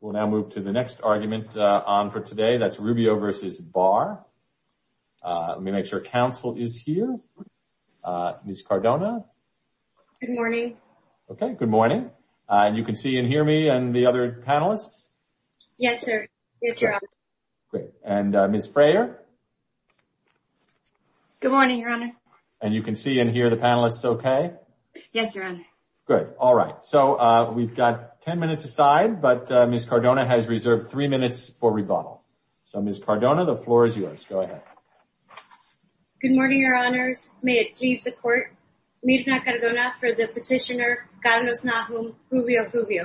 will now move to the next argument on for today. That's Rubio v. Barr. Let me make sure counsel is here. Ms. Cardona? Good morning. Okay, good morning. And you can see and hear me and the other panelists? Yes, sir. Yes, your honor. Great. And Ms. Frayer? Good morning, your honor. And you can see and hear the panelists okay? Yes, your honor. Good. All right. So we've got 10 minutes aside, but Ms. Cardona has reserved three minutes for rebuttal. So Ms. Cardona, the floor is yours. Go ahead. Good morning, your honors. May it please the court. Mirna Cardona for the petitioner Carlos Nahum, Rubio v. Rubio.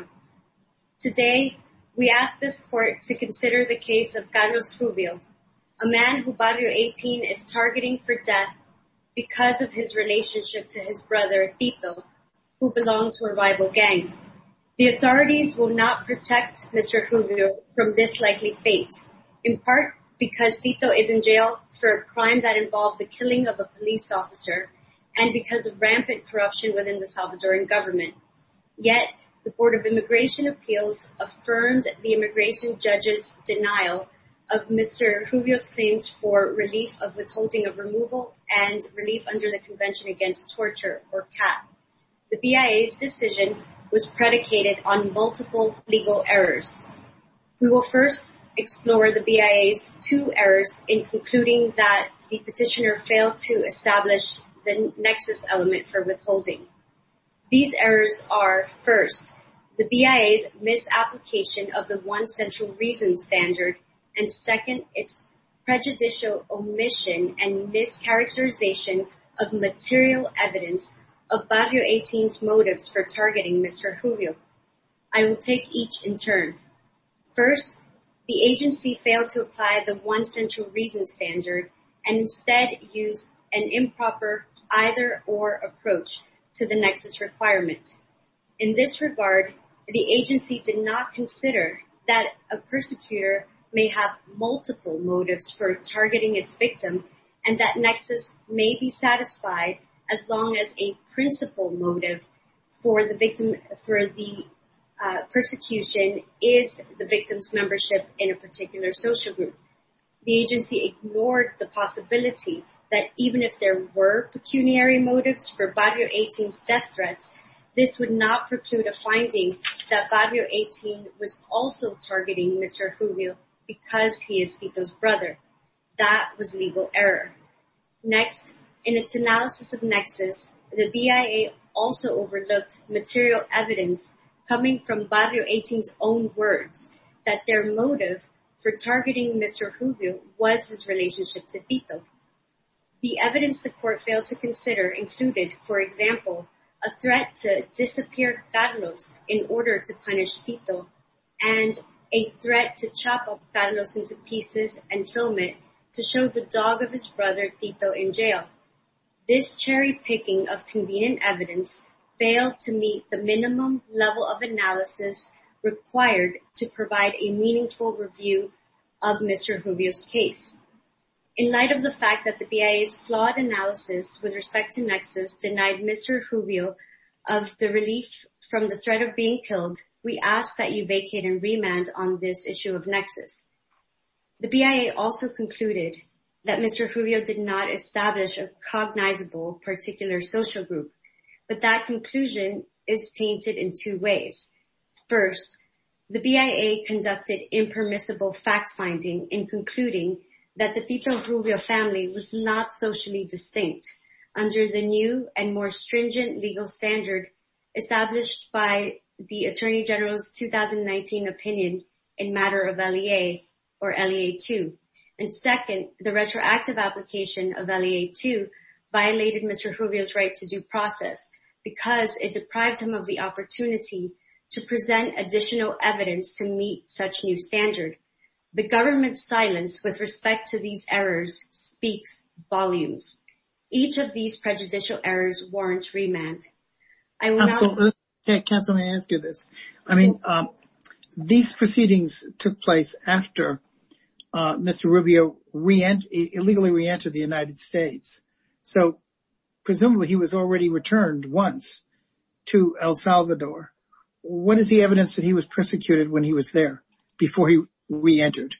Today, we ask this court to consider the case of Carlos Rubio, a man who Barrio 18 is targeting for death because of his rival gang. The authorities will not protect Mr. Rubio from this likely fate, in part, because Tito is in jail for a crime that involved the killing of a police officer, and because of rampant corruption within the Salvadoran government. Yet, the Board of Immigration Appeals affirmed the immigration judges denial of Mr. Rubio's claims for relief of withholding of removal and relief under the Convention Against Torture or CAP. The BIA's decision was predicated on multiple legal errors. We will first explore the BIA's two errors in concluding that the petitioner failed to establish the nexus element for withholding. These errors are first, the BIA's misapplication of the One Central Reason standard, and second, its prejudicial omission and mischaracterization of material evidence of Barrio 18's motives for targeting Mr. Rubio. I will take each in turn. First, the agency failed to apply the One Central Reason standard and instead used an improper either-or approach to the nexus requirement. In this regard, the agency did not consider that a persecutor may have multiple motives for targeting its victim, and that nexus may be satisfied as long as a principal motive for the victim for the persecution is the victim's membership in a prison. Next, in its analysis of nexus, the BIA also overlooked material evidence coming from Barrio 18's own words that their motive for targeting Mr. Rubio was his relationship to Tito. The evidence the court failed to consider included, for example, a threat to disappear Carlos in order to punish Tito, and a threat to chop up Carlos into pieces and film it to show the dog of his brother Tito in jail. This cherry-picking of convenient evidence failed to meet the minimum level of fact that the BIA's flawed analysis with respect to nexus denied Mr. Rubio of the relief from the threat of being killed. We ask that you vacate and remand on this issue of nexus. The BIA also concluded that Mr. Rubio did not establish a cognizable particular social group, but that conclusion is tainted in two ways. First, the BIA conducted impermissible fact-finding in not socially distinct under the new and more stringent legal standard established by the Attorney General's 2019 opinion in matter of LEA or LEA-2. And second, the retroactive application of LEA-2 violated Mr. Rubio's right to due process because it deprived him of the opportunity to present additional evidence to meet such new standard. The government's silence with respect to these errors speaks volumes. Each of these prejudicial errors warrants remand. I will now- Counsel, may I ask you this? I mean, these proceedings took place after Mr. Rubio re-entered, illegally re-entered the United States. So presumably he was already returned once to El Salvador. What is the evidence that he was persecuted when he was there before he re-entered?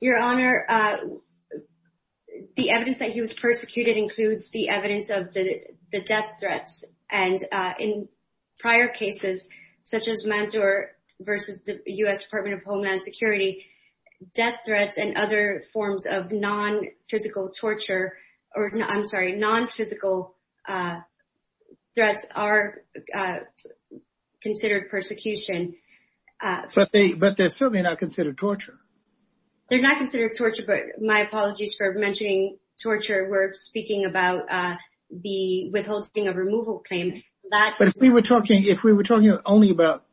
Your Honor, the evidence that he was persecuted includes the evidence of the death threats. And in prior cases, such as Manzur versus the U.S. Department of Homeland Security, death threats and other forms of non-physical torture, or I'm sorry, non-physical threats are considered persecution. But they're certainly not considered torture. They're not considered torture, but my apologies for mentioning torture. We're speaking about the withholding of removal claim that- But if we were talking only about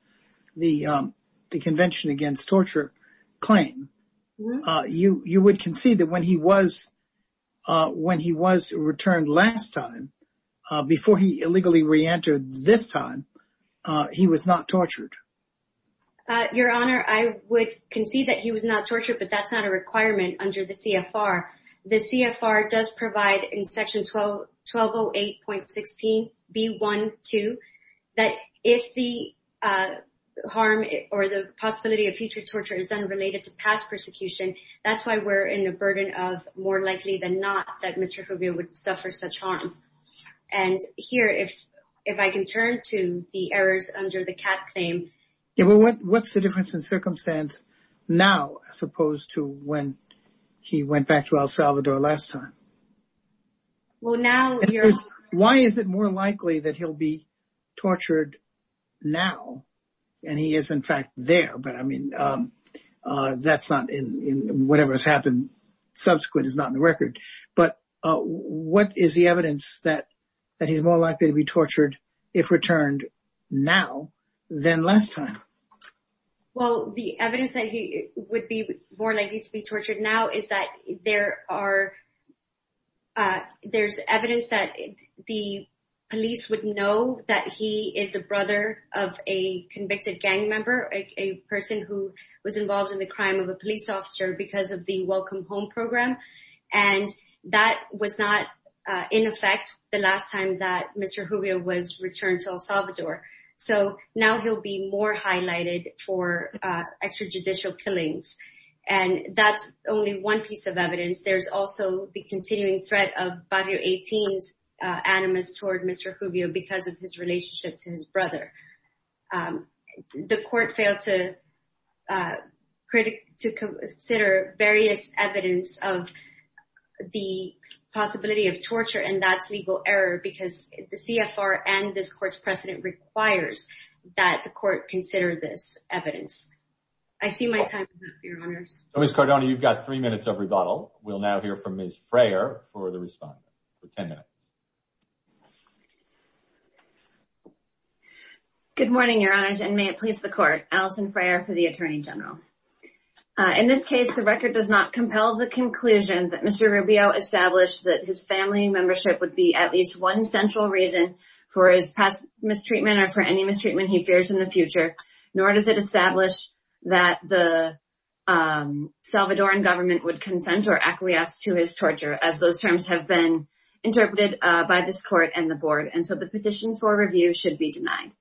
the Convention Against Torture claim, you would concede that when he was returned last time, before he illegally re-entered this time, he was not tortured. Your Honor, I would concede that he was not tortured, but that's not a requirement under the CFR. The CFR does provide in Section 1208.16b.1.2 that if the harm or the possibility of future torture is unrelated to past persecution, that's why we're in the burden of more likely than not that Mr. Rubio would suffer such harm. And here, if I can turn to the errors under the CAT claim- Yeah, well, what's the difference in circumstance now as opposed to when he went back to El Salvador last time? Well, now- In other words, why is it more likely that he'll be tortured now and he is, in fact, there? But I mean, that's not in- whatever has happened subsequent is not in the record. But what is the evidence that he's more likely to be tortured if returned now than last time? Well, the evidence that he would be more likely to be tortured now is that there are- And that was not in effect the last time that Mr. Rubio was returned to El Salvador. So now he'll be more highlighted for extrajudicial killings. And that's only one piece of evidence. There's also the continuing threat of Barrio 18's animus toward Mr. The court failed to consider various evidence of the possibility of torture, and that's legal error because the CFR and this court's precedent requires that the court consider this evidence. I see my time is up, Your Honours. So, Ms. Cardona, you've got three minutes of rebuttal. We'll now hear from Ms. Frayer for the respondent for 10 minutes. Good morning, Your Honours, and may it please the court. Alison Frayer for the Attorney General. In this case, the record does not compel the conclusion that Mr. Rubio established that his family membership would be at least one central reason for his past mistreatment or for any mistreatment he fears in the future, nor does it establish that the Salvadoran government would consent or acquiesce to his torture, as those terms have been interpreted by this court and the board. And so the petition for review should be denied.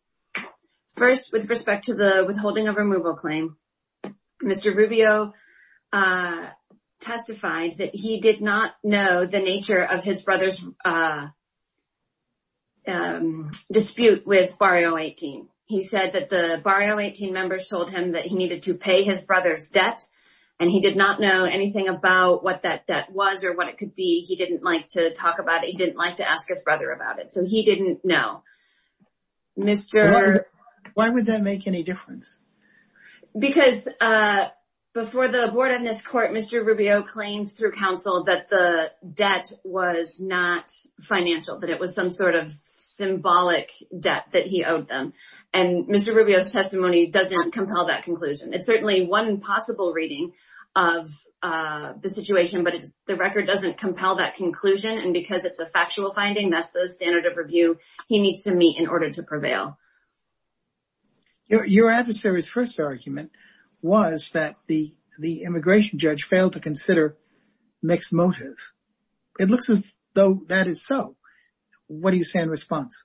First, with respect to the withholding of removal claim, Mr. Rubio testified that he did not know the nature of his brother's dispute with Barrio 18. He said that the Barrio 18 members told him that he needed to pay his brother's debts and he did not know anything about what that debt was or what it could be. He didn't like to talk about it. He didn't like to ask his brother about it. So he didn't know, Mr. Why would that make any difference? Because before the board on this court, Mr. Rubio claims through counsel that the debt was not financial, that it was some sort of symbolic debt that he owed them. And Mr. Rubio's testimony doesn't compel that conclusion. It's certainly one possible reading of the situation, but the record doesn't compel that conclusion. And because it's a factual finding, that's the standard of review he needs to meet in order to prevail. Your adversary's first argument was that the immigration judge failed to consider mixed motive. It looks as though that is so. What do you say in response?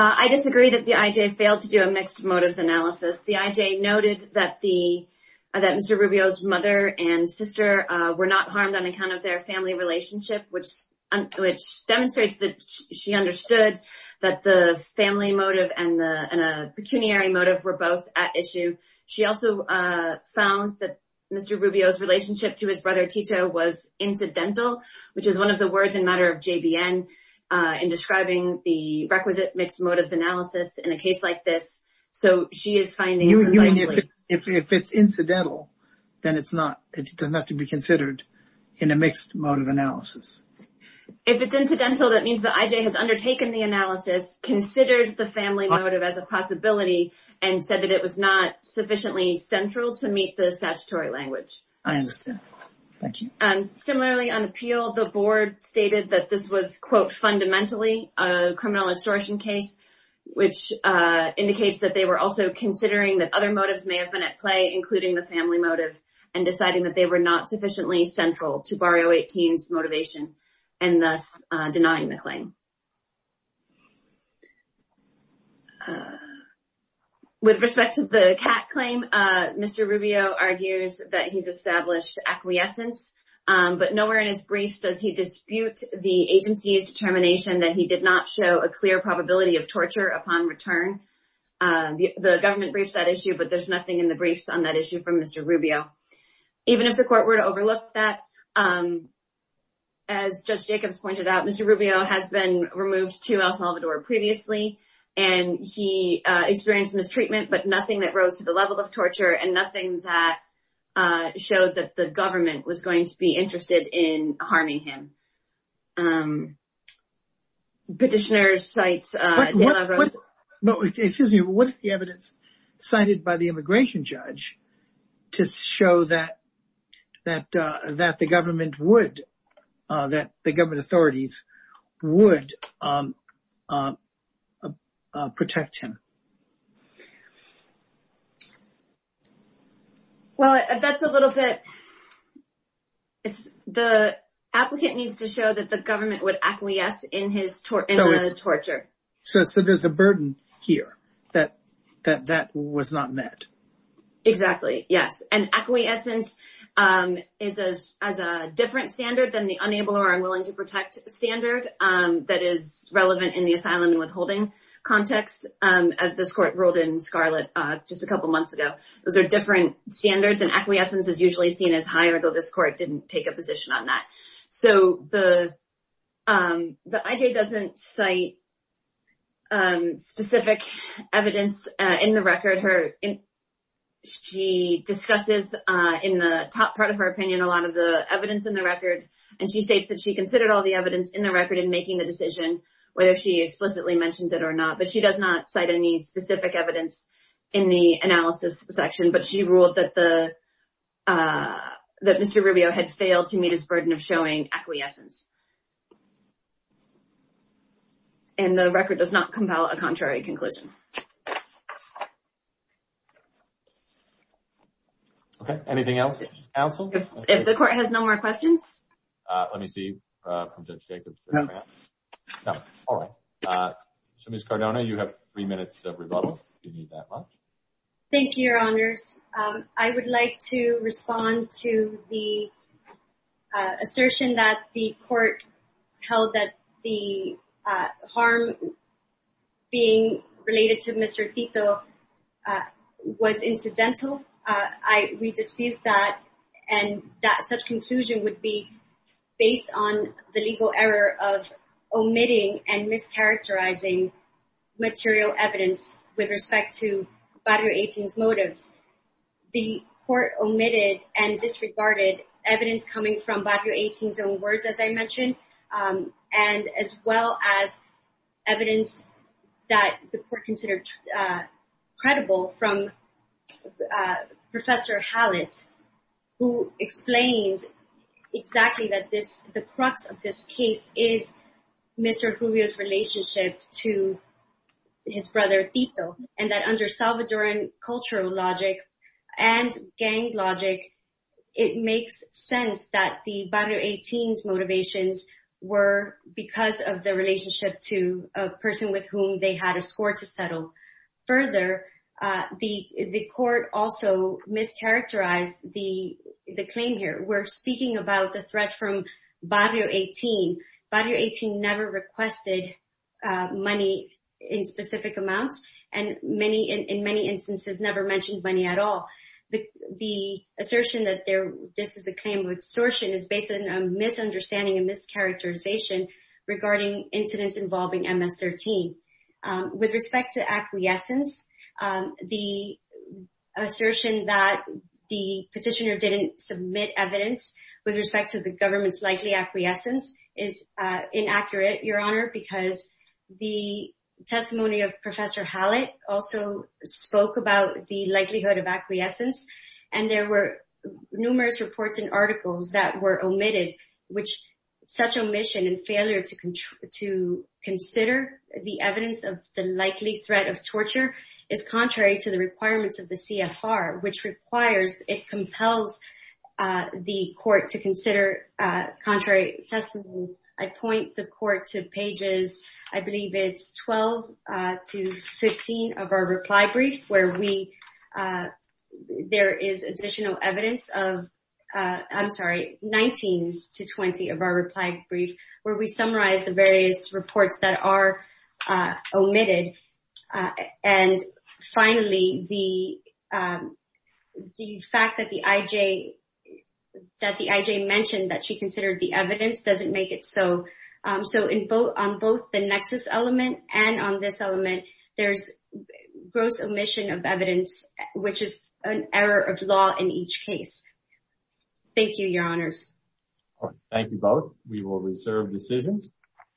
I disagree that the IJ failed to do a mixed motives analysis. The IJ noted that the that Mr. Rubio's mother and sister were not harmed on account of their family relationship, which which demonstrates that she understood that the family motive and the pecuniary motive were both at issue. She also found that Mr. Rubio's relationship to his brother Tito was incidental, which is one of the words in matter of JBN in describing the requisite mixed motives analysis in a case like this. So she is finding. You mean if it's incidental, then it's not it does not have to be considered in a mixed motive analysis. If it's incidental, that means the IJ has undertaken the analysis, considered the family motive as a possibility and said that it was not sufficiently central to meet the statutory language. I understand. Thank you. Similarly, on appeal, the board stated that this was, quote, fundamentally a criminal extortion case, which indicates that they were also considering that other motives may have been at play, including the family motive and deciding that they were not sufficiently central to Barrio 18's motivation and thus denying the claim. With respect to the cat claim, Mr. Rubio argues that he's established acquiescence, but nowhere in his briefs does he dispute the agency's determination that he did not show a clear probability of torture upon return the government briefs that issue, but there's nothing in the briefs on that issue from Mr. Rubio, even if the court were to overlook that, as Judge Jacobs pointed out, Mr. Rubio had been removed to El Salvador previously, and he experienced mistreatment, but nothing that rose to the level of torture and nothing that showed that the government was going to be interested in harming him. Petitioners cite... But excuse me, what is the evidence cited by the immigration judge to show that the government would, that the government authorities would protect him? Well, that's a little bit, the applicant needs to show that the government would acquiesce in his torture. So there's a burden here that that was not met. Exactly. Yes. And acquiescence is as a different standard than the unable or unwilling to protect standard that is relevant in the asylum and withholding context, as this court ruled in Scarlet just a couple of months ago. Those are different standards, and acquiescence is usually seen as higher, though this court didn't take a position on that. So the IJ doesn't cite specific evidence in the record. She discusses in the top part of her opinion, a lot of the evidence in the record, and she states that she considered all the evidence in the record in making the decision, whether she explicitly mentions it or not. But she does not cite any specific evidence in the analysis section. But she ruled that the, that Mr. Rubio had failed to meet his burden of showing acquiescence. And the record does not compel a contrary conclusion. OK, anything else, counsel? If the court has no more questions. Let me see from Judge Jacobs. No. All right. So, Ms. Cardona, you have three minutes of rebuttal, if you need that much. Thank you, Your Honors. I would like to respond to the assertion that the court held that the harm being related to Mr. Tito was incidental. We dispute that, and that such conclusion would be based on the legal error of omitting and mischaracterizing material evidence with respect to Barrio 18's motives. The court omitted and disregarded evidence coming from Barrio 18's own words, as I mentioned, and as well as evidence that the court considered credible from Professor Hallett, who explains exactly that this, the crux of this case is Mr. Rubio's relationship to his brother Tito. And that under Salvadoran cultural logic and gang logic, it makes sense that the Barrio 18's motivations were because of the relationship to a person with whom they had a score to settle. Further, the court also mischaracterized the claim here. We're speaking about the threats from Barrio 18. Barrio 18 never requested money in specific amounts, and in many instances, never mentioned money at all. The assertion that this is a claim of extortion is based on a misunderstanding and mischaracterization regarding incidents involving MS-13. With respect to acquiescence, the assertion that the petitioner didn't submit evidence with respect to the government's likely acquiescence is inaccurate, Your Honor, because the testimony of Professor Hallett also spoke about the likelihood of acquiescence. And there were numerous reports and articles that were omitted, which such omission and failure to consider the evidence of the likely threat of torture is contrary to the requirements of the CFR, which requires, it compels the court to consider contrary testimony. I point the court to pages, I believe it's 12 to 15 of our reply brief, where we, there is additional evidence of, I'm sorry, 19 to 20 of our reply brief, where we summarize the various reports that are omitted. And finally, the fact that the IJ mentioned that she considered the evidence doesn't make it so. So on both the nexus element and on this element, there's gross omission of evidence, which is an error of law in each case. Thank you, Your Honors. Thank you both. We will reserve decisions.